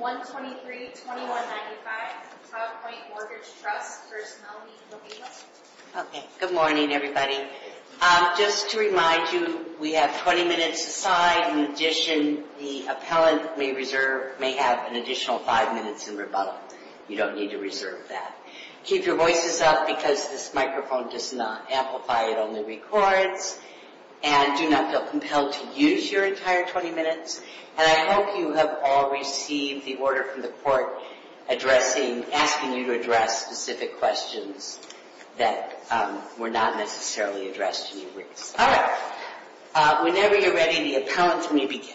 123-2195 Todd Point Mortgage Trust v. Melody Rovino Okay, good morning everybody. Just to remind you, we have 20 minutes aside. In addition, the appellant may have an additional 5 minutes in rebuttal. You don't need to reserve that. Keep your voices up because this microphone does not amplify, it only records. And do not feel compelled to use your entire 20 minutes. And I hope you have all received the order from the court asking you to address specific questions that were not necessarily addressed in your briefs. Alright, whenever you're ready, the appellant may begin.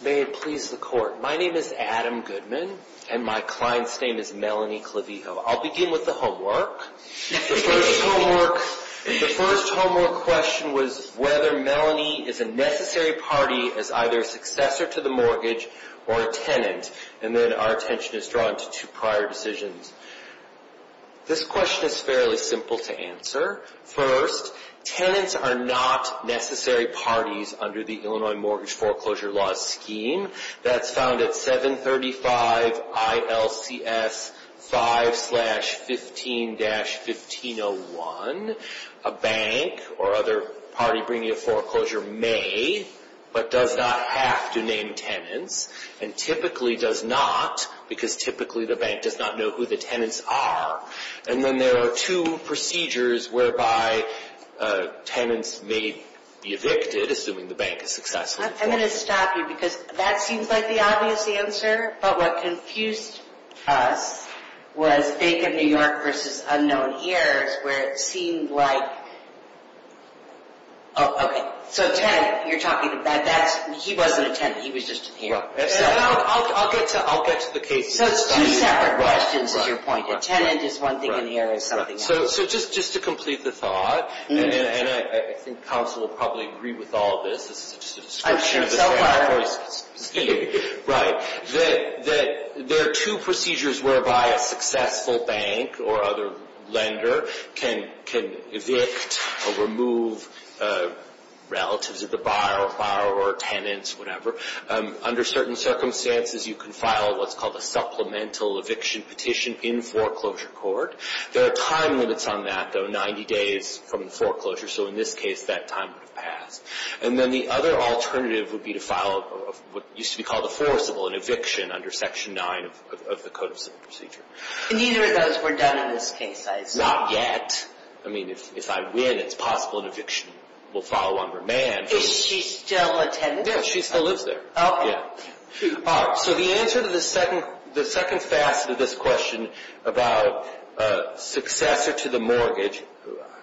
May it please the court, my name is Adam Goodman and my client's name is Melanie Clavijo. I'll begin with the homework. The first homework question was whether Melanie is a necessary party as either a successor to the mortgage or a tenant. And then our attention is drawn to two prior decisions. This question is fairly simple to answer. First, tenants are not necessary parties under the Illinois Mortgage Foreclosure Law scheme. That's found at 735 ILCS 5-15-1501. A bank or other party bringing a foreclosure may, but does not have to, name tenants. And typically does not because typically the bank does not know who the tenants are. And then there are two procedures whereby tenants may be evicted, assuming the bank is successful. I'm going to stop you because that seems like the obvious answer. But what confused us was Bank of New York versus Unknown Heirs, where it seemed like... Oh, okay, so tenant, you're talking about that, he wasn't a tenant, he was just an heir. I'll get to the case. So it's two separate questions is your point. A tenant is one thing, an heir is something else. So just to complete the thought, and I think counsel will probably agree with all of this, this is just a description of the Sanford scheme. Right. There are two procedures whereby a successful bank or other lender can evict or remove relatives of the buyer or tenants, whatever. Under certain circumstances, you can file what's called a supplemental eviction petition in foreclosure court. There are time limits on that, though, 90 days from the foreclosure. So in this case, that time would have passed. And then the other alternative would be to file what used to be called a forcible, an eviction under Section 9 of the Code of Civil Procedure. And neither of those were done in this case, I assume. Not yet. I mean, if I win, it's possible an eviction will follow on remand. Is she still a tenant? Yes, she still lives there. So the answer to the second facet of this question about successor to the mortgage,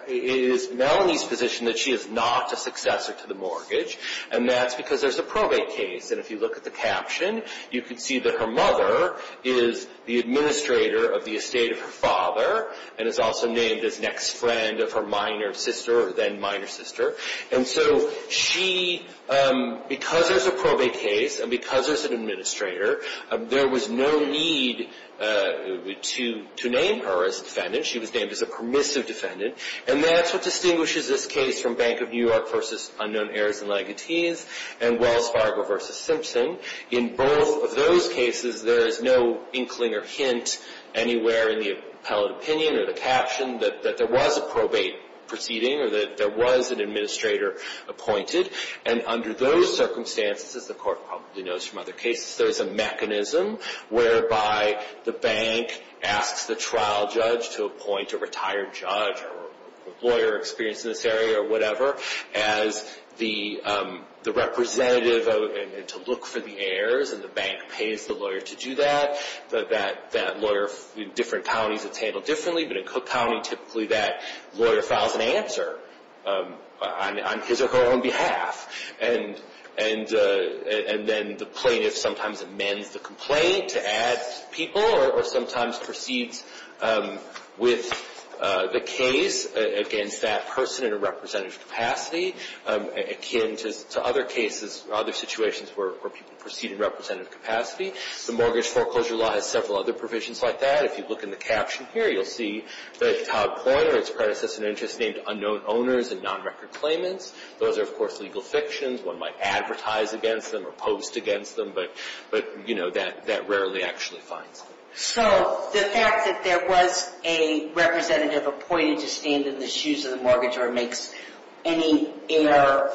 it is Melanie's position that she is not a successor to the mortgage, and that's because there's a probate case. And if you look at the caption, you can see that her mother is the administrator of the estate of her father and is also named as next friend of her minor sister, then minor sister. And so she, because there's a probate case and because there's an administrator, there was no need to name her as a defendant. She was named as a permissive defendant. And that's what distinguishes this case from Bank of New York v. Unknown Heirs and Legatees and Wells Fargo v. Simpson. In both of those cases, there is no inkling or hint anywhere in the appellate opinion or the caption that there was a probate proceeding or that there was an administrator appointed. And under those circumstances, as the court probably knows from other cases, there is a mechanism whereby the bank asks the trial judge to appoint a retired judge or lawyer experienced in this area or whatever as the representative to look for the heirs, and the bank pays the lawyer to do that. In different counties it's handled differently, but in Cook County typically that lawyer files an answer on his or her own behalf. And then the plaintiff sometimes amends the complaint to add people or sometimes proceeds with the case against that person in a representative capacity, akin to other cases, other situations where people proceed in representative capacity. The mortgage foreclosure law has several other provisions like that. If you look in the caption here, you'll see that Todd Coyle, or its predecessor in interest, named unknown owners and non-record claimants. Those are, of course, legal fictions. One might advertise against them or post against them, but, you know, that rarely actually finds it. So the fact that there was a representative appointed to stand in the shoes of the mortgage or makes any error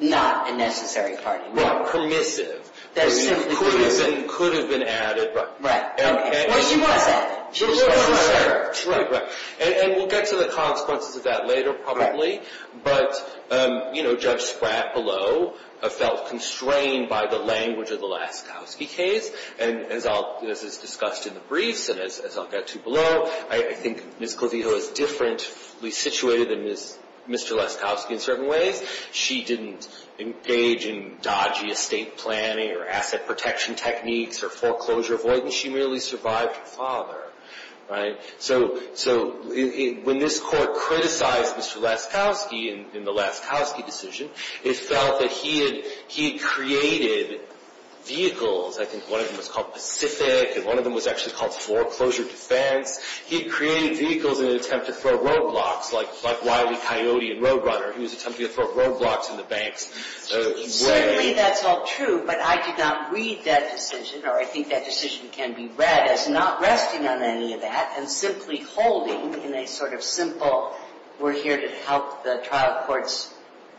not a necessary part. Right, permissive. That is simply true. Could have been added. Right. Or she wasn't. She was necessary. Right, right. And we'll get to the consequences of that later probably. But, you know, Judge Spratt below felt constrained by the language of the Laskowski case. And as is discussed in the briefs and as I'll get to below, I think Ms. Clavijo is differently situated than Mr. Laskowski in certain ways. She didn't engage in dodgy estate planning or asset protection techniques or foreclosure avoidance. She merely survived her father. Right. So when this Court criticized Mr. Laskowski in the Laskowski decision, it felt that he had created vehicles. I think one of them was called Pacific and one of them was actually called foreclosure defense. He created vehicles in an attempt to throw roadblocks like Wiley, Coyote, and Roadrunner. He was attempting to throw roadblocks in the bank's way. Certainly that's all true, but I did not read that decision, or I think that decision can be read as not resting on any of that and simply holding in a sort of simple we're here to help the trial courts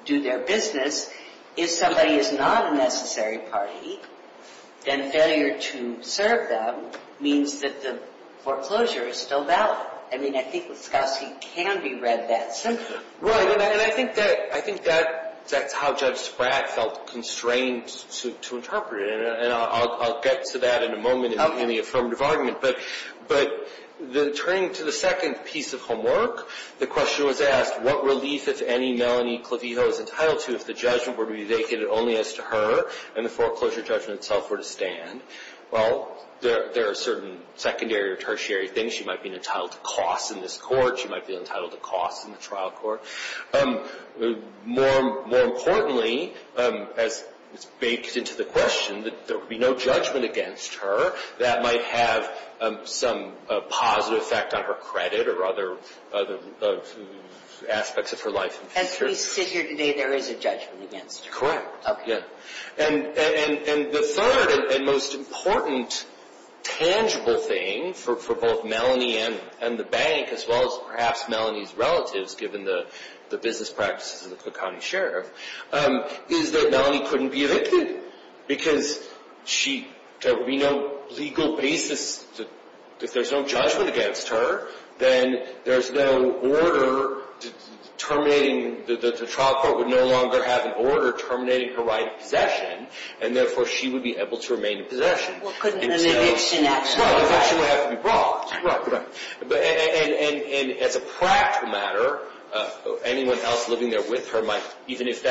do their business. If somebody is not a necessary party, then failure to serve them means that the foreclosure is still valid. I mean, I think Laskowski can be read that simply. Right, and I think that's how Judge Spratt felt constrained to interpret it, and I'll get to that in a moment in the affirmative argument. But turning to the second piece of homework, the question was asked, what relief if any Melanie Clavijo is entitled to if the judgment were to be vacated only as to her and the foreclosure judgment itself were to stand? Well, there are certain secondary or tertiary things. She might be entitled to costs in this court. She might be entitled to costs in the trial court. More importantly, as it's baked into the question, that there would be no judgment against her that might have some positive effect on her credit or other aspects of her life in future. As we sit here today, there is a judgment against her. Correct. Okay. And the third and most important tangible thing for both Melanie and the bank, as well as perhaps Melanie's relatives given the business practices of the Cook County Sheriff, is that Melanie couldn't be evicted because there would be no legal basis. If there's no judgment against her, then there's no order terminating. The trial court would no longer have an order terminating her right of possession, and therefore she would be able to remain in possession. Well, couldn't an eviction actually? Well, eviction would have to be brought. Right, right. And as a practical matter, anyone else living there with her might, even if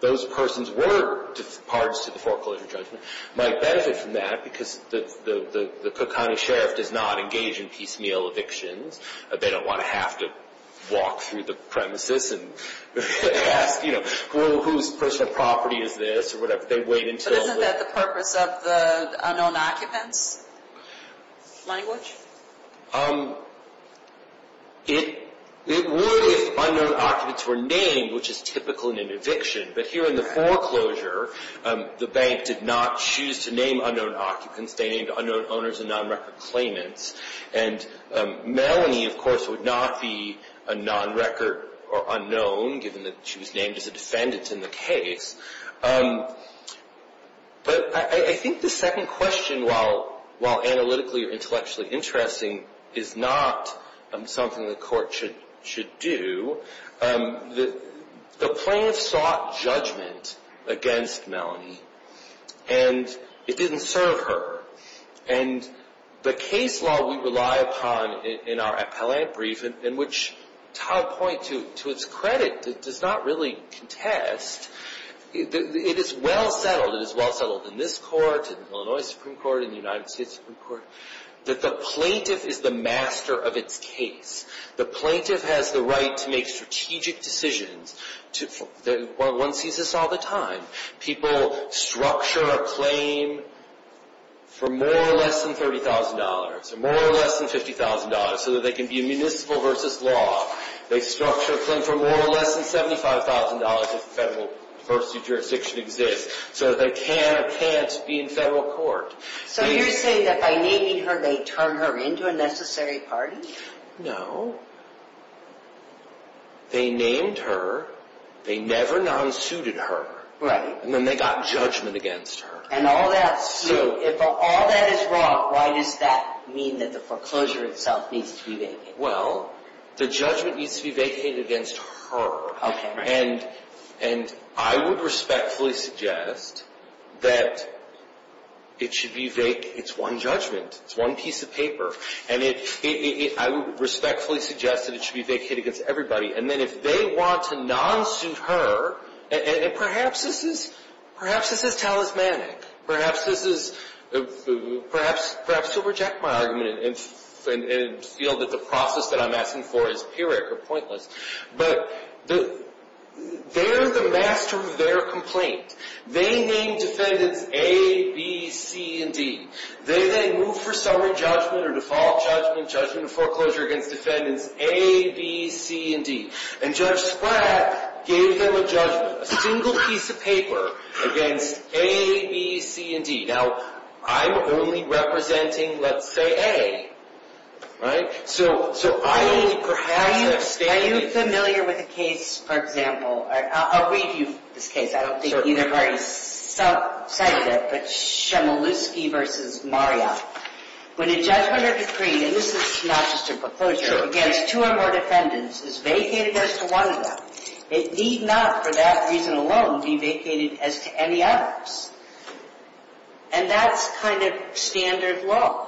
those persons were parts to the foreclosure judgment, might benefit from that because the Cook County Sheriff does not engage in piecemeal evictions. They don't want to have to walk through the premises and ask, you know, whose personal property is this or whatever. They wait until the – But isn't that the purpose of the unknown occupants language? It would if unknown occupants were named, which is typical in an eviction. But here in the foreclosure, the bank did not choose to name unknown occupants. They named unknown owners and non-record claimants. And Melanie, of course, would not be a non-record or unknown, given that she was named as a defendant in the case. But I think the second question, while analytically or intellectually interesting, is not something the court should do. The plaintiff sought judgment against Melanie, and it didn't serve her. And the case law we rely upon in our appellate brief, in which Todd Point, to its credit, does not really contest, it is well settled, it is well settled in this court, in the Illinois Supreme Court, in the United States Supreme Court, that the plaintiff is the master of its case. The plaintiff has the right to make strategic decisions. One sees this all the time. People structure a claim for more or less than $30,000 or more or less than $50,000 so that they can be in municipal versus law. They structure a claim for more or less than $75,000 if federal versus jurisdiction exists so that they can or can't be in federal court. So you're saying that by naming her they turn her into a necessary party? No. They named her. They never non-suited her. Right. And then they got judgment against her. So if all that is wrong, why does that mean that the foreclosure itself needs to be vacated? Well, the judgment needs to be vacated against her. Okay. And I would respectfully suggest that it should be vacated. It's one judgment. It's one piece of paper. And I would respectfully suggest that it should be vacated against everybody. And then if they want to non-suit her, and perhaps this is talismanic. Perhaps this is perhaps she'll reject my argument and feel that the process that I'm asking for is pyrrhic or pointless. But they're the master of their complaint. They named defendants A, B, C, and D. They then moved for summary judgment or default judgment, judgment of foreclosure against defendants A, B, C, and D. And Judge Splatt gave them a judgment, a single piece of paper against A, B, C, and D. Now, I'm only representing, let's say, A. Right? So I only perhaps have stated. Are you familiar with a case, for example? I'll read you this case. I don't think either party cited it, but Chmielewski v. Marriott. When a judgment or decree, and this is not just a foreclosure, against two or more defendants is vacated as to one of them, it need not for that reason alone be vacated as to any others. And that's kind of standard law.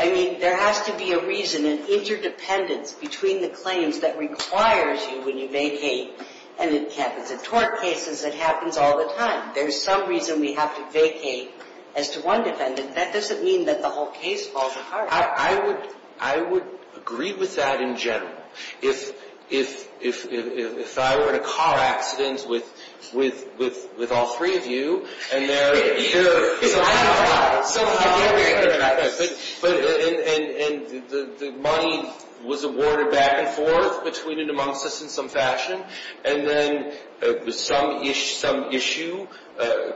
I mean, there has to be a reason, an interdependence between the claims that requires you when you vacate and it happens in tort cases, it happens all the time. There's some reason we have to vacate as to one defendant. That doesn't mean that the whole case falls apart. I would agree with that in general. If I were in a car accident with all three of you, and the money was awarded back and forth between and amongst us in some fashion, and then some issue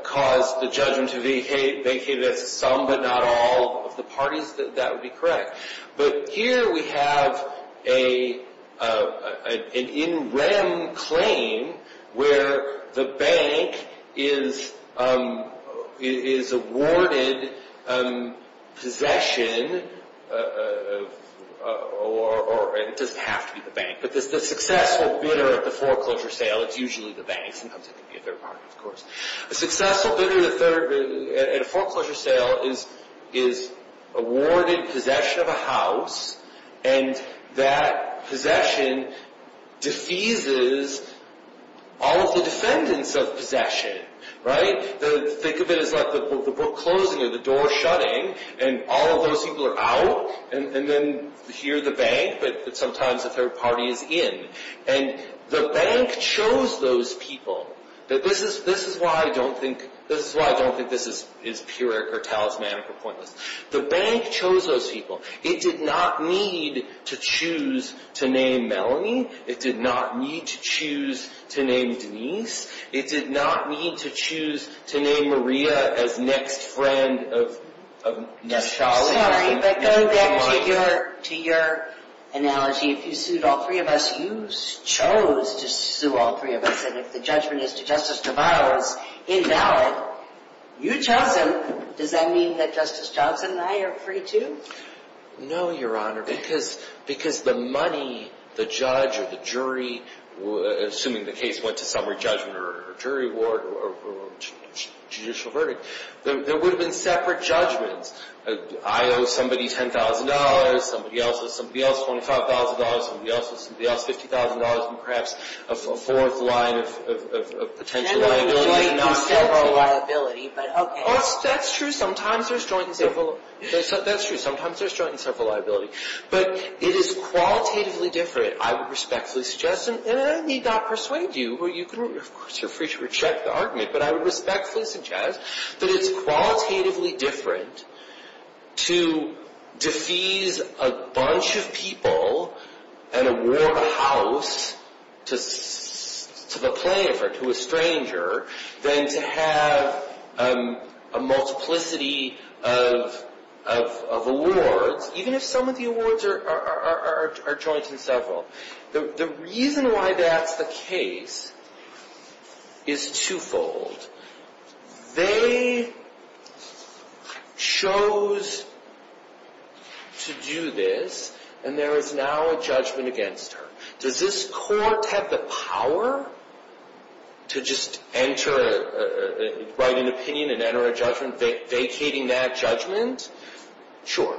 caused the judgment to be vacated as to some but not all of the parties, that would be correct. But here we have an in rem claim where the bank is awarded possession, or it doesn't have to be the bank, but the successful bidder at the foreclosure sale, it's usually the bank. Sometimes it can be a third party, of course. A successful bidder at a foreclosure sale is awarded possession of a house, and that possession defeases all of the defendants of possession. Think of it as like the book closing or the door shutting, and all of those people are out, and then here the bank, but sometimes a third party is in. And the bank chose those people. This is why I don't think this is pyrrhic or talismanic or pointless. The bank chose those people. It did not need to choose to name Melanie. It did not need to choose to name Denise. It did not need to choose to name Maria as next friend of Sholly. I'm sorry, but going back to your analogy, if you sued all three of us, you chose to sue all three of us, and if the judgment is to Justice DeVos invalid, you chose them. Does that mean that Justice Johnson and I are free too? No, Your Honor, because the money, the judge or the jury, assuming the case went to summary judgment or jury ward or judicial verdict, there would have been separate judgments. I owe somebody $10,000. Somebody else owes somebody else $25,000. Somebody else owes somebody else $50,000, and perhaps a fourth line of potential liability. Not several liability, but okay. That's true. Sometimes there's joint and several liability. But it is qualitatively different. I would respectfully suggest, and I need not persuade you, you can, of course, you're free to reject the argument, but I would respectfully suggest that it's qualitatively different to defease a bunch of people and award a house to the plaintiff or to a stranger than to have a multiplicity of awards, even if some of the awards are joint and several. The reason why that's the case is twofold. They chose to do this, and there is now a judgment against her. Does this court have the power to just enter, write an opinion and enter a judgment, vacating that judgment? Sure.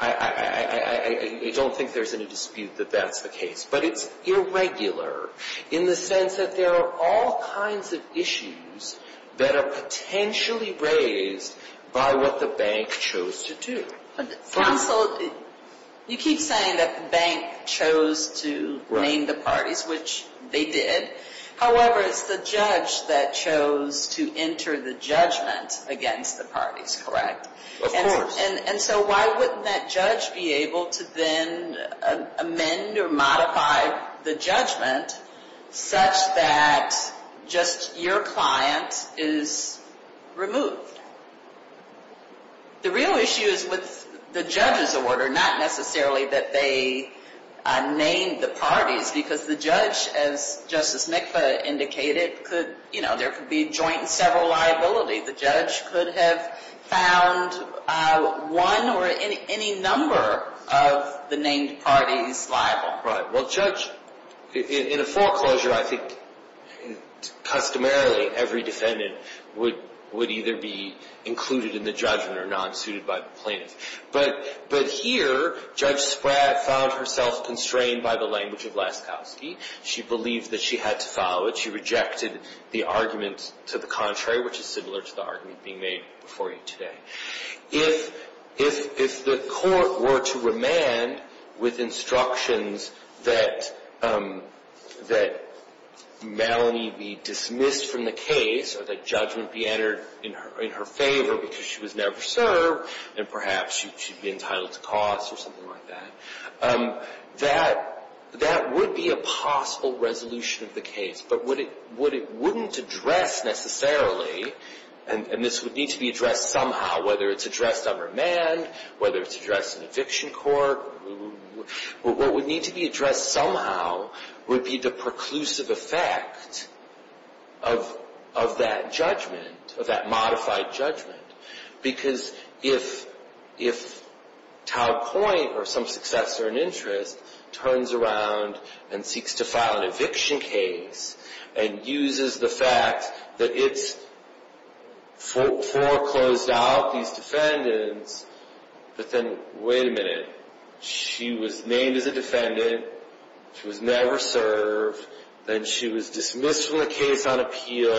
I don't think there's any dispute that that's the case. But it's irregular in the sense that there are all kinds of issues that are potentially raised by what the bank chose to do. Counsel, you keep saying that the bank chose to name the parties, which they did. However, it's the judge that chose to enter the judgment against the parties, correct? Of course. And so why wouldn't that judge be able to then amend or modify the judgment such that just your client is removed? The real issue is with the judge's order, not necessarily that they named the parties, because the judge, as Justice Mikva indicated, there could be joint and several liabilities. The judge could have found one or any number of the named parties liable. Right. Well, judge, in a foreclosure, I think customarily every defendant would either be included in the judgment or not suited by the plaintiff. But here, Judge Spratt found herself constrained by the language of Laskowski. She believed that she had to follow it. She rejected the argument to the contrary, which is similar to the argument being made before you today. If the court were to remand with instructions that Melanie be dismissed from the case or that judgment be entered in her favor because she was never served, and perhaps she'd be entitled to costs or something like that, that would be a possible resolution of the case. But what it wouldn't address necessarily, and this would need to be addressed somehow, whether it's addressed on remand, whether it's addressed in eviction court, what would need to be addressed somehow would be the preclusive effect of that judgment, of that modified judgment. Because if Tau Point or some successor in interest turns around and seeks to file an eviction case and uses the fact that it's foreclosed out, these defendants, but then, wait a minute, she was named as a defendant, she was never served, then she was dismissed from the case on appeal,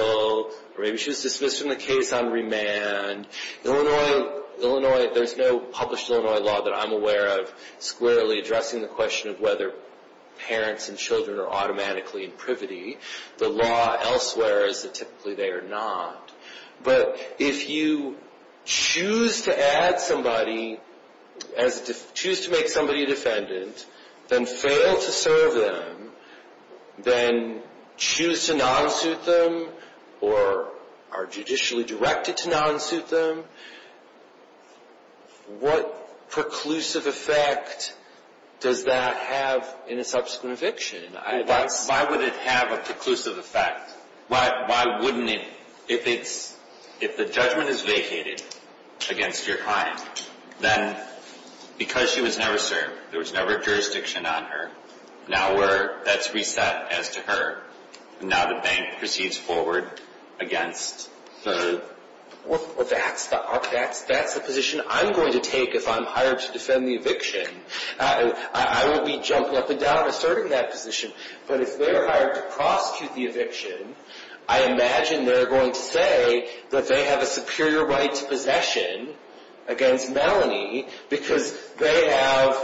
or maybe she was dismissed from the case on remand. Illinois, there's no published Illinois law that I'm aware of squarely addressing the question of whether parents and children are automatically in privity. The law elsewhere is that typically they are not. But if you choose to add somebody, choose to make somebody a defendant, then fail to serve them, then choose to non-suit them, or are judicially directed to non-suit them, what preclusive effect does that have in a subsequent eviction? Why would it have a preclusive effect? Why wouldn't it? If the judgment is vacated against your client, then because she was never served, there was never a jurisdiction on her, now that's reset as to her, and now the bank proceeds forward against her. Well, that's the position I'm going to take if I'm hired to defend the eviction. I will be jumping up and down asserting that position, but if they're hired to prosecute the eviction, I imagine they're going to say that they have a superior right to possession against Melanie because they have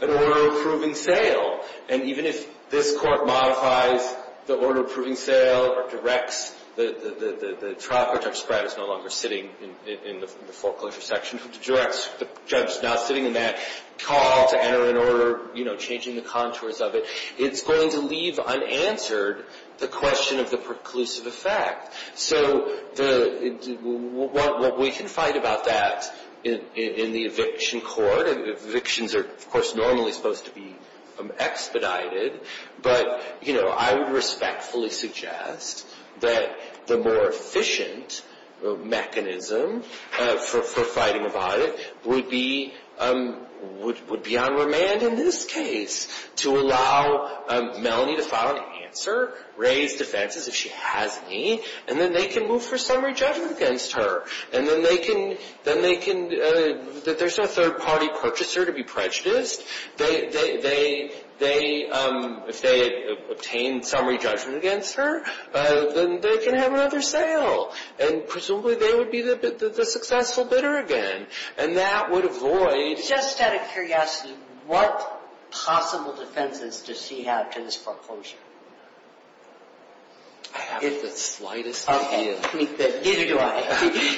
an order of proving sale. And even if this court modifies the order of proving sale or directs the trial court, and Judge Spratt is no longer sitting in the foreclosure section, the judge is now sitting in that call to enter an order, you know, changing the contours of it, it's going to leave unanswered the question of the preclusive effect. So what we can find about that in the eviction court, evictions are, of course, normally supposed to be expedited, but I would respectfully suggest that the more efficient mechanism for fighting about it would be on remand in this case to allow Melanie to file an answer, raise defenses if she has any, and then they can move for summary judgment against her. And then they can, there's no third-party purchaser to be prejudiced. If they obtain summary judgment against her, then they can have another sale. And presumably they would be the successful bidder again. And that would avoid... Just out of curiosity, what possible defenses does she have to this foreclosure? I have the slightest idea. Neither do I.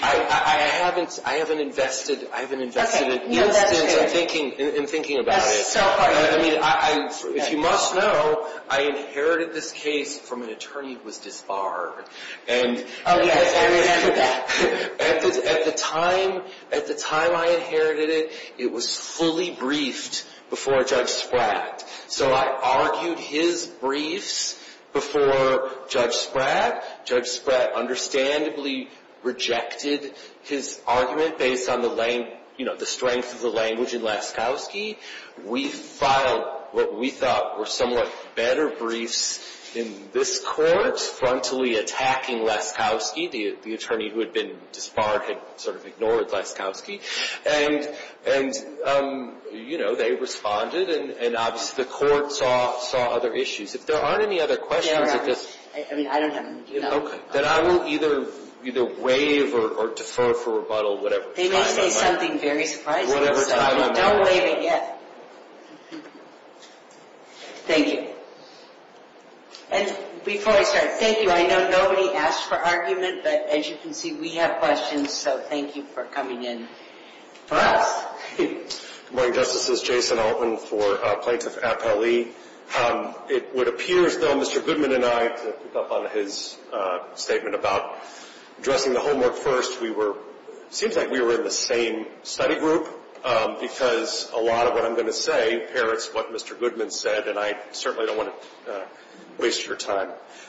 I haven't invested an instance in thinking about it. That's so funny. If you must know, I inherited this case from an attorney who was disbarred. Oh yes, I remember that. At the time I inherited it, it was fully briefed before Judge Spratt. So I argued his briefs before Judge Spratt. Judge Spratt understandably rejected his argument based on the strength of the language in Laskowski. We filed what we thought were somewhat better briefs in this court, frontally attacking Laskowski. The attorney who had been disbarred had sort of ignored Laskowski. And they responded. And obviously the court saw other issues. If there aren't any other questions... I don't have any. Then I will either waive or defer for rebuttal. They may say something very surprising. Don't waive it yet. Thank you. And before I start, thank you. I know nobody asked for argument. But as you can see, we have questions. So thank you for coming in for us. Good morning, Justices. Jason Altman for Plaintiff Appellee. It would appear, though, Mr. Goodman and I, to pick up on his statement about addressing the homework first, it seems like we were in the same study group because a lot of what I'm going to say parrots what Mr. Goodman said. And I certainly don't want to waste your time.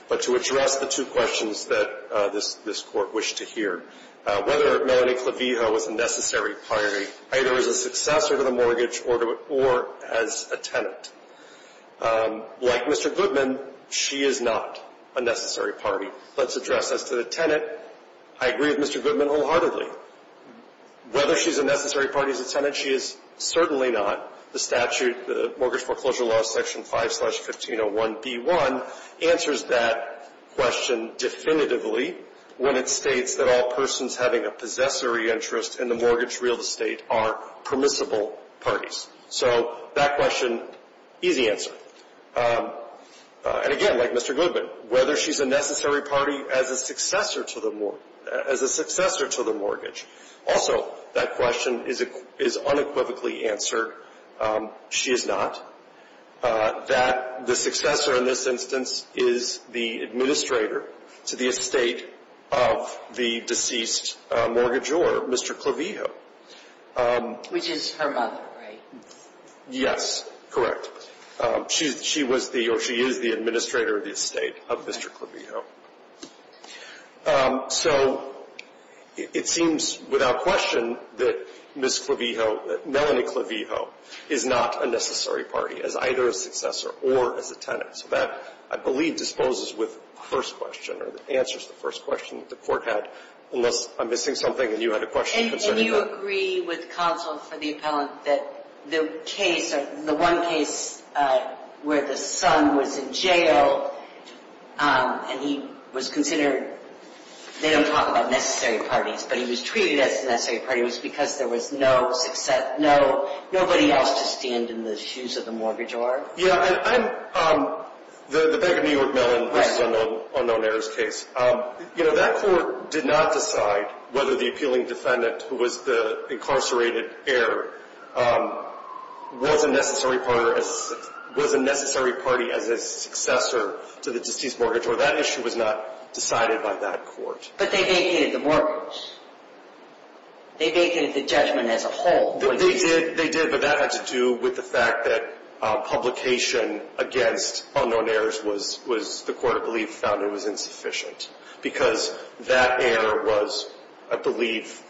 But to address the two questions that this Court wished to hear, whether Melanie Clavijo is a necessary party either as a successor to the mortgage or as a tenant. Like Mr. Goodman, she is not a necessary party. Let's address as to the tenant. I agree with Mr. Goodman wholeheartedly. Whether she's a necessary party as a tenant, she is certainly not. The statute, the Mortgage Foreclosure Law Section 5-1501B1 answers that question definitively when it states that all persons having a possessory interest in the mortgage real estate are permissible parties. So that question, easy answer. And again, like Mr. Goodman, whether she's a necessary party as a successor to the mortgage. Also, that question is unequivocally answered. She is not. The successor in this instance is the administrator to the estate of the deceased mortgagee, or Mr. Clavijo. Which is her mother, right? Yes, correct. She is the administrator of the estate of Mr. Clavijo. So it seems without question that Ms. Clavijo, that Melanie Clavijo is not a necessary party as either a successor or as a tenant. So that, I believe, disposes with the first question or answers the first question that the court had. Unless I'm missing something and you had a question concerning that. Do you agree with counsel for the appellant that the case, the one case where the son was in jail, and he was considered, they don't talk about necessary parties, but he was treated as a necessary party, was because there was no success, nobody else to stand in the shoes of the mortgage lord? Yeah, the Bank of New York-Mellon versus unknown heirs case. You know, that court did not decide whether the appealing defendant, who was the incarcerated heir, was a necessary party as a successor to the deceased mortgage, or that issue was not decided by that court. But they vacated the mortgage. They vacated the judgment as a whole. They did, but that had to do with the fact that publication against unknown heirs was, the court, I believe, found it was insufficient. Because that heir was, I believe,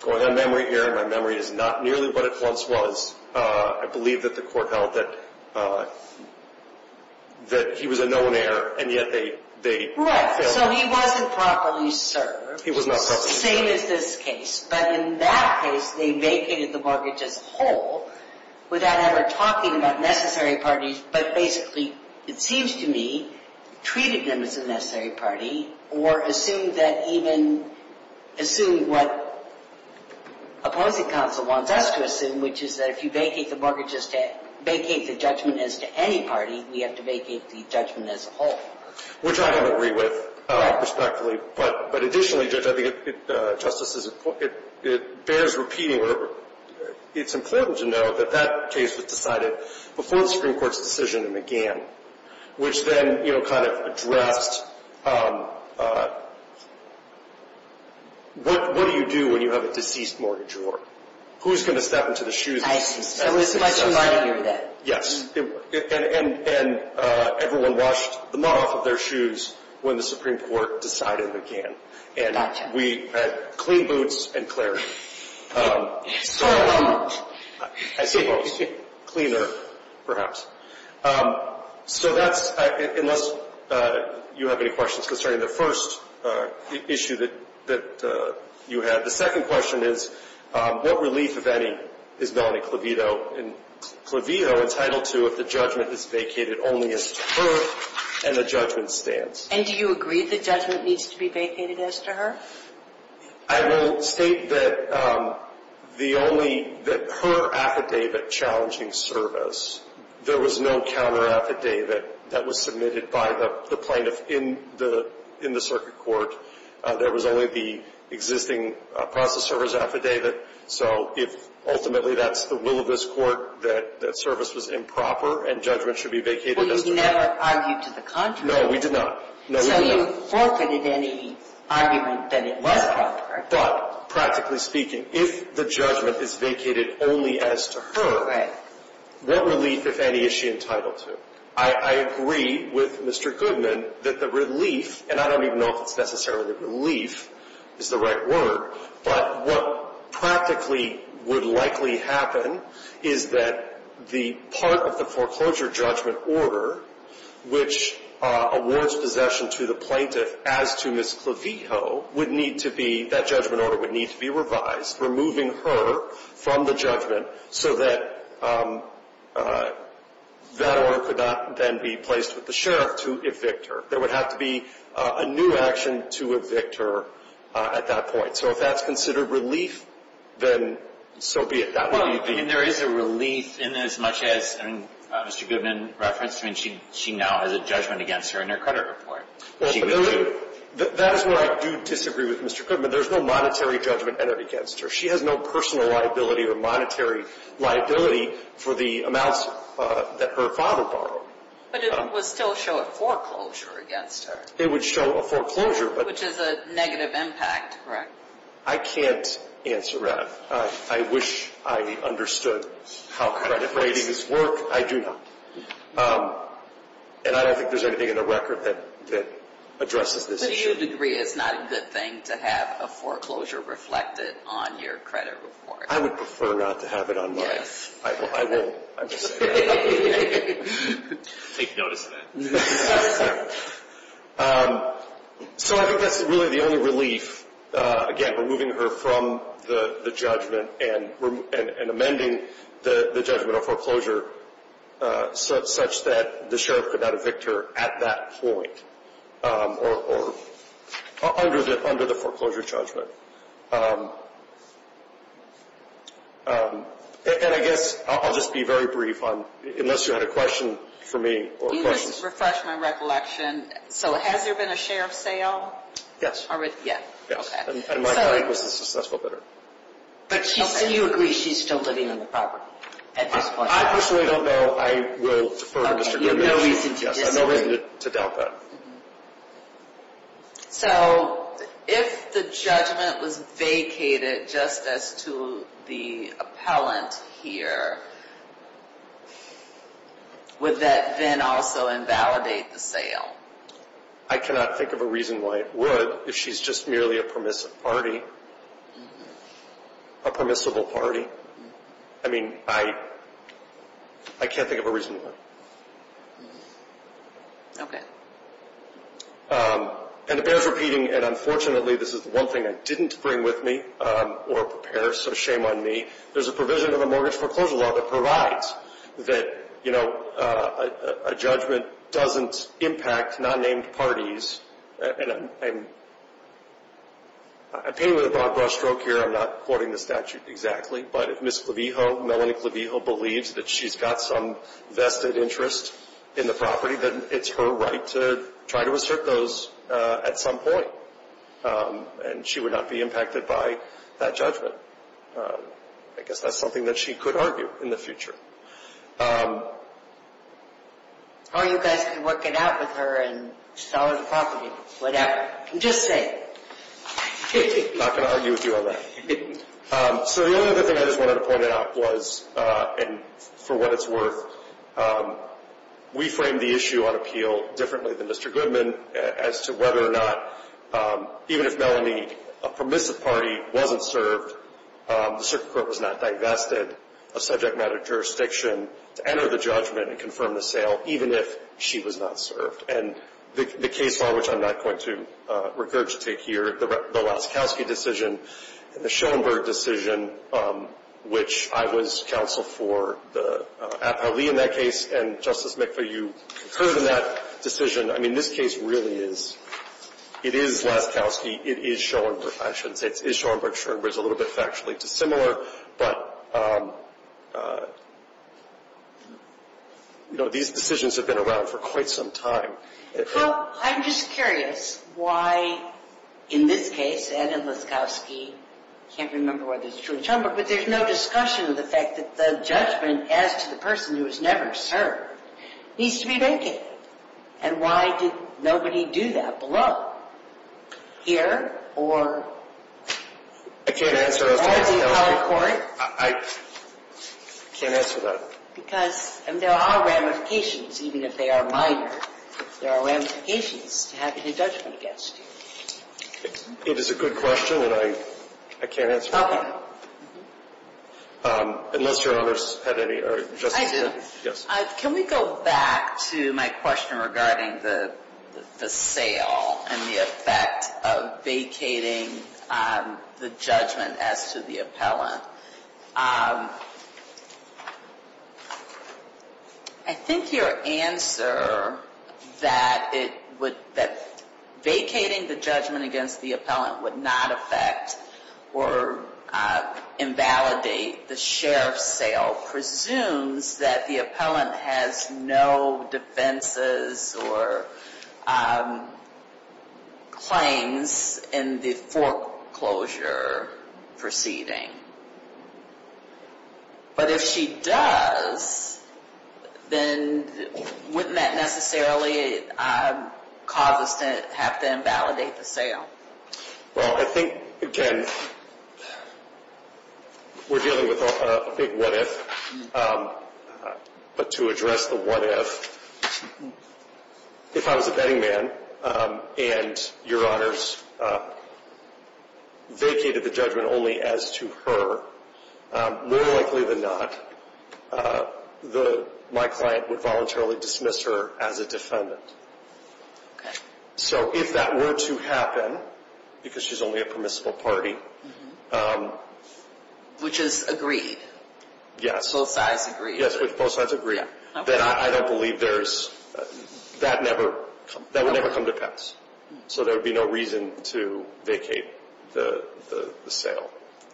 going on memory error, my memory is not nearly what it once was, I believe that the court held that he was a known heir, and yet they- Right, so he wasn't properly served. He was not properly served. It's the same as this case, but in that case, they vacated the mortgage as a whole without ever talking about necessary parties, but basically, it seems to me, treated them as a necessary party or assumed that even, assumed what opposing counsel wants us to assume, which is that if you vacate the judgment as to any party, we have to vacate the judgment as a whole. Which I don't agree with, respectfully. But additionally, Judge, I think it, Justice, it bears repeating, it's important to know that that case was decided before the Supreme Court's decision began, which then, you know, kind of addressed what do you do when you have a deceased mortgage award? Who's going to step into the shoes of- I see. My shoes aren't doing that. Yes. And everyone washed them off of their shoes when the Supreme Court decided it began. Gotcha. And we had clean boots and clarity. Yes. So, I suppose, cleaner, perhaps. So that's, unless you have any questions concerning the first issue that you had. The second question is, what relief, if any, is Melanie Clavito? And Clavito entitled to if the judgment is vacated only as to her and the judgment's stance? And do you agree the judgment needs to be vacated as to her? I will state that the only, that her affidavit challenging service, there was no counteraffidavit that was submitted by the plaintiff in the circuit court. There was only the existing process server's affidavit. So if ultimately that's the will of this court, that service was improper and judgment should be vacated as to her. But you never argued to the contrary. No, we did not. So you forfeited any argument that it was proper. But, practically speaking, if the judgment is vacated only as to her, what relief, if any, is she entitled to? I agree with Mr. Goodman that the relief, and I don't even know if it's necessarily relief is the right word, but what practically would likely happen is that the part of the foreclosure judgment order which awards possession to the plaintiff as to Ms. Clavito would need to be, that judgment order would need to be revised, removing her from the judgment, so that that order could not then be placed with the sheriff to evict her. There would have to be a new action to evict her at that point. So if that's considered relief, then so be it. There is a relief in as much as Mr. Goodman referenced. She now has a judgment against her in her credit report. That is where I do disagree with Mr. Goodman. There's no monetary judgment entered against her. She has no personal liability or monetary liability for the amounts that her father borrowed. But it would still show a foreclosure against her. It would show a foreclosure. Which is a negative impact, correct? I can't answer that. I wish I understood how credit ratings work. I do not. And I don't think there's anything in the record that addresses this issue. But do you agree it's not a good thing to have a foreclosure reflected on your credit report? I would prefer not to have it on mine. Yes. I will. Take notice of that. So I think that's really the only relief, again, removing her from the judgment and amending the judgment of foreclosure such that the sheriff could not evict her at that point or under the foreclosure judgment. And I guess I'll just be very brief unless you had a question for me. You just refreshed my recollection. So has there been a sheriff's sale? Yes. Yes. Okay. And my client was a successful bidder. So you agree she's still living on the property at this point? I personally don't know. I will defer to Mr. Goodman. Okay. You have no reason to disagree. I have no reason to doubt that. So if the judgment was vacated just as to the appellant here, would that then also invalidate the sale? I cannot think of a reason why it would if she's just merely a permissible party. I mean, I can't think of a reason why. Okay. And it bears repeating, and unfortunately this is the one thing I didn't bring with me or prepare, so shame on me. There's a provision in the mortgage foreclosure law that provides that, you know, a judgment doesn't impact non-named parties. And I'm painting with a broad brushstroke here. I'm not quoting the statute exactly. But if Ms. Clavijo, Melanie Clavijo, believes that she's got some vested interest in the property, then it's her right to try to assert those at some point. And she would not be impacted by that judgment. I guess that's something that she could argue in the future. Or you guys could work it out with her and sell her the property, whatever. Just saying. Not going to argue with you on that. So the only other thing I just wanted to point out was, and for what it's worth, we framed the issue on appeal differently than Mr. Goodman as to whether or not, even if Melanie, a permissive party, wasn't served, the circuit court was not divested of subject matter jurisdiction to enter the judgment and confirm the sale, even if she was not served. And the case law, which I'm not going to regurgitate here, the Laskowski decision, the Schoenberg decision, which I was counsel for the appellee in that case. And, Justice McPhee, you concurred in that decision. I mean, this case really is. It is Laskowski. It is Schoenberg. I shouldn't say it's Schoenberg. Schoenberg is a little bit factually dissimilar. But, you know, these decisions have been around for quite some time. Well, I'm just curious why in this case, and in Laskowski, I can't remember whether it's true in Schoenberg, but there's no discussion of the fact that the judgment as to the person who was never served needs to be vacated. And why did nobody do that below? Here or? I can't answer that. I can't answer that. Because there are ramifications, even if they are minor. There are ramifications to having a judgment against you. It is a good question, and I can't answer that. Okay. Unless your others had any. I do. Yes. Can we go back to my question regarding the sale and the effect of vacating the judgment as to the appellant? I think your answer that vacating the judgment against the appellant would not affect or invalidate the sheriff's sale presumes that the appellant has no defenses or claims in the foreclosure proceeding. But if she does, then wouldn't that necessarily cause us to have to invalidate the sale? Well, I think, again, we're dealing with a big what if. But to address the what if, if I was a betting man and your honors vacated the judgment only as to her, more likely than not my client would voluntarily dismiss her as a defendant. Okay. So if that were to happen, because she's only a permissible party. Which is agreed. Yes. Both sides agree. Yes, both sides agree. Then I don't believe there's, that never, that would never come to pass. So there would be no reason to vacate the sale.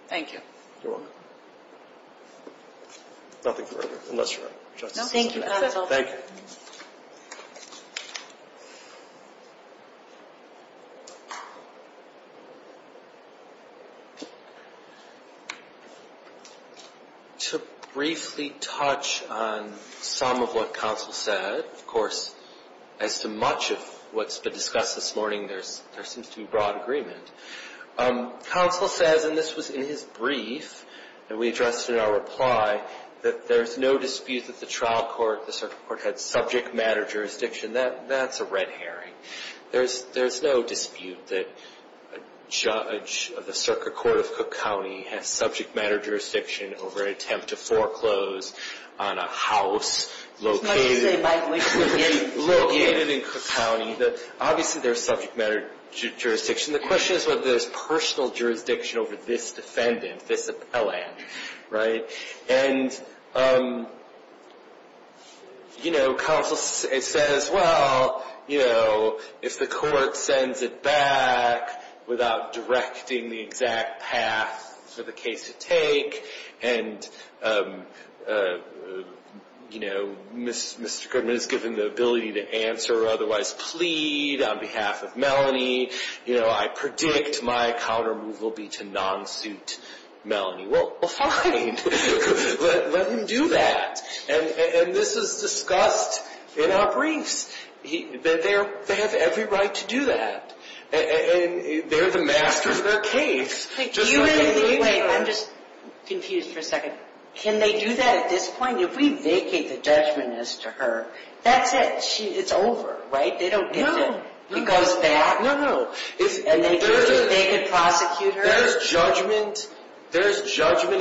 Thank you. You're welcome. Nothing further, unless your Honor. No, thank you, counsel. Thank you. To briefly touch on some of what counsel said. Of course, as to much of what's been discussed this morning, there seems to be broad agreement. Counsel says, and this was in his brief that we addressed in our reply, that there's no dispute that the trial court, the circuit court, had subject matter jurisdiction. That's a red herring. There's no dispute that a judge of the circuit court of Cook County has subject matter jurisdiction over an attempt to foreclose on a house located in Cook County. Obviously, there's subject matter jurisdiction. The question is whether there's personal jurisdiction over this defendant, this appellant. And, you know, counsel says, well, you know, if the court sends it back without directing the exact path for the case to take, and, you know, Mr. Goodman is given the ability to answer or otherwise plead on behalf of Melanie, you know, I predict my counter move will be to non-suit Melanie. Well, fine. Let him do that. And this is discussed in our briefs. They have every right to do that. And they're the masters of their case. Wait, I'm just confused for a second. Can they do that at this point? If we vacate the judgment as to her, that's it. It's over, right? They don't get to. No. It goes back. No, no. And they could prosecute her? There's judgment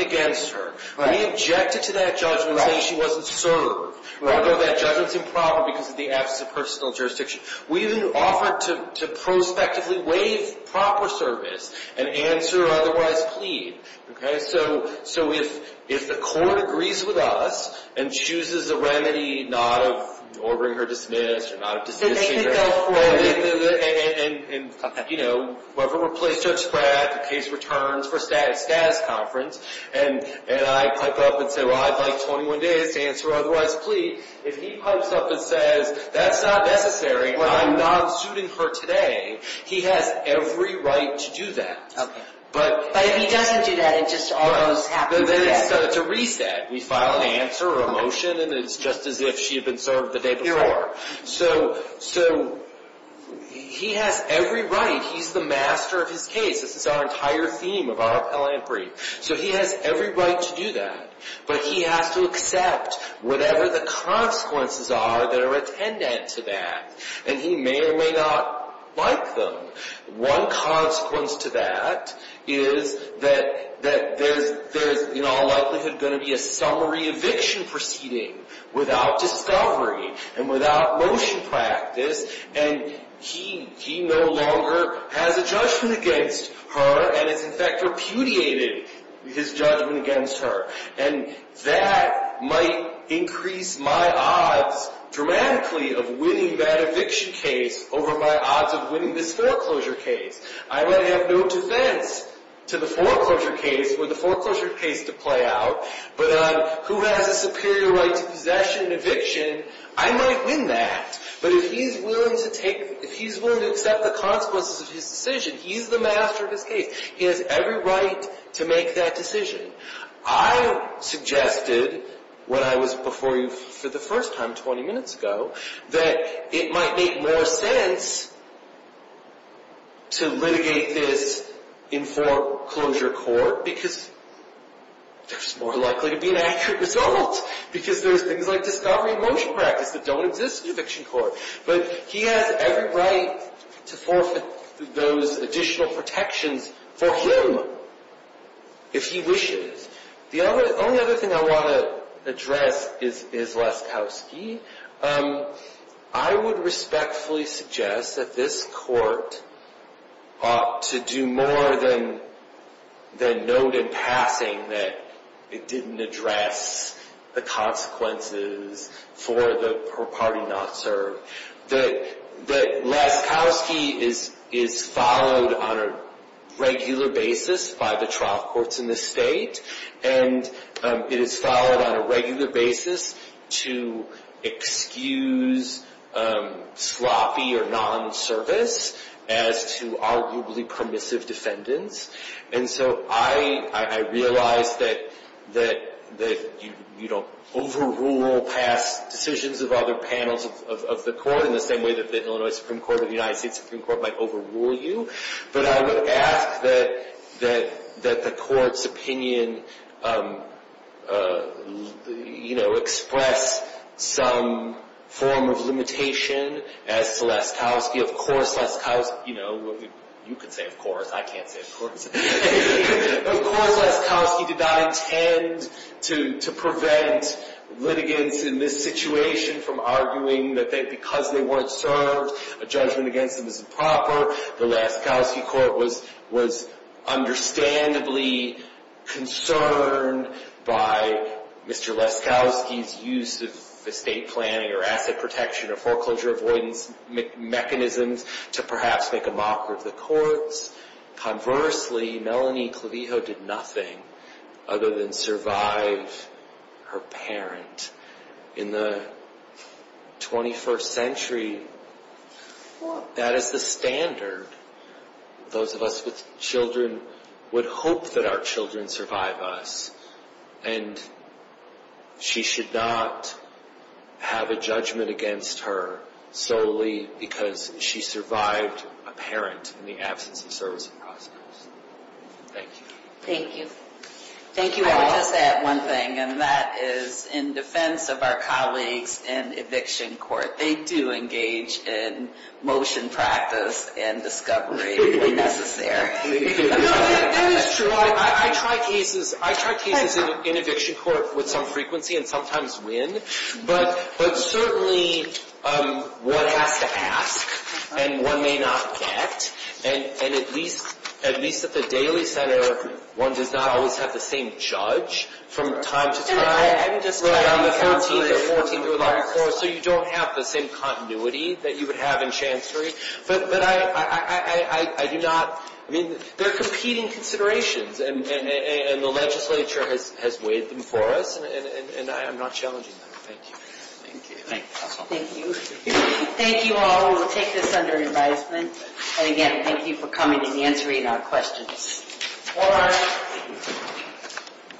against her. We objected to that judgment saying she wasn't served. Although that judgment's improper because of the absence of personal jurisdiction. We even offered to prospectively waive proper service and answer or otherwise plead. So if the court agrees with us and chooses a remedy not of ordering her dismissed or not of dismissing her. So they can go for it. And, you know, whatever we're placed to expect, the case returns for status conference. And I pipe up and say, well, I'd like 21 days to answer or otherwise plead. If he pipes up and says, that's not necessary. I'm not suiting her today. He has every right to do that. But if he doesn't do that, it just almost happens. Then it's a reset. We file an answer or a motion and it's just as if she had been served the day before. So he has every right. He's the master of his case. This is our entire theme of our appellant brief. So he has every right to do that. But he has to accept whatever the consequences are that are attendant to that. And he may or may not like them. One consequence to that is that there's in all likelihood going to be a summary eviction proceeding without discovery and without motion practice. And he no longer has a judgment against her and has, in fact, repudiated his judgment against her. And that might increase my odds dramatically of winning that eviction case over my odds of winning this foreclosure case. I might have no defense to the foreclosure case or the foreclosure case to play out. But who has a superior right to possession and eviction, I might win that. But if he's willing to take, if he's willing to accept the consequences of his decision, he's the master of his case. He has every right to make that decision. I suggested when I was before you for the first time 20 minutes ago that it might make more sense to litigate this in foreclosure court because there's more likely to be an accurate result. Because there's things like discovery and motion practice that don't exist in eviction court. But he has every right to forfeit those additional protections for him if he wishes. The only other thing I want to address is Leskowski. I would respectfully suggest that this court ought to do more than note in passing that it didn't address the consequences for the party not served. That Leskowski is followed on a regular basis by the trial courts in this state. And it is followed on a regular basis to excuse sloppy or non-service as to arguably permissive defendants. And so I realize that you don't overrule past decisions of other panels of the court in the same way that the Illinois Supreme Court or the United States Supreme Court might overrule you. But I would ask that the court's opinion express some form of limitation as to Leskowski. Of course Leskowski, you know, you can say of course, I can't say of course. Of course Leskowski did not intend to prevent litigants in this situation from arguing that because they weren't served, a judgment against them is improper. The Leskowski court was understandably concerned by Mr. Leskowski's use of estate planning or asset protection or foreclosure avoidance mechanisms to perhaps make a mockery of the courts. Conversely, Melanie Clavijo did nothing other than survive her parent in the 21st century. That is the standard. Those of us with children would hope that our children survive us. And she should not have a judgment against her solely because she survived a parent in the absence of servicing prosecutors. Thank you. Thank you. Thank you all. I would just add one thing, and that is in defense of our colleagues in eviction court. They do engage in motion practice and discovery when necessary. That is true. I try cases in eviction court with some frequency and sometimes win. But certainly one has to ask and one may not get. And at least at the daily center, one does not always have the same judge from time to time. I haven't discussed that. So you don't have the same continuity that you would have in chancery. But I do not. I mean, they're competing considerations. And the legislature has weighed them for us. And I am not challenging them. Thank you. Thank you. Thank you. Thank you all. We'll take this under advisement. And again, thank you for coming and answering our questions. All right.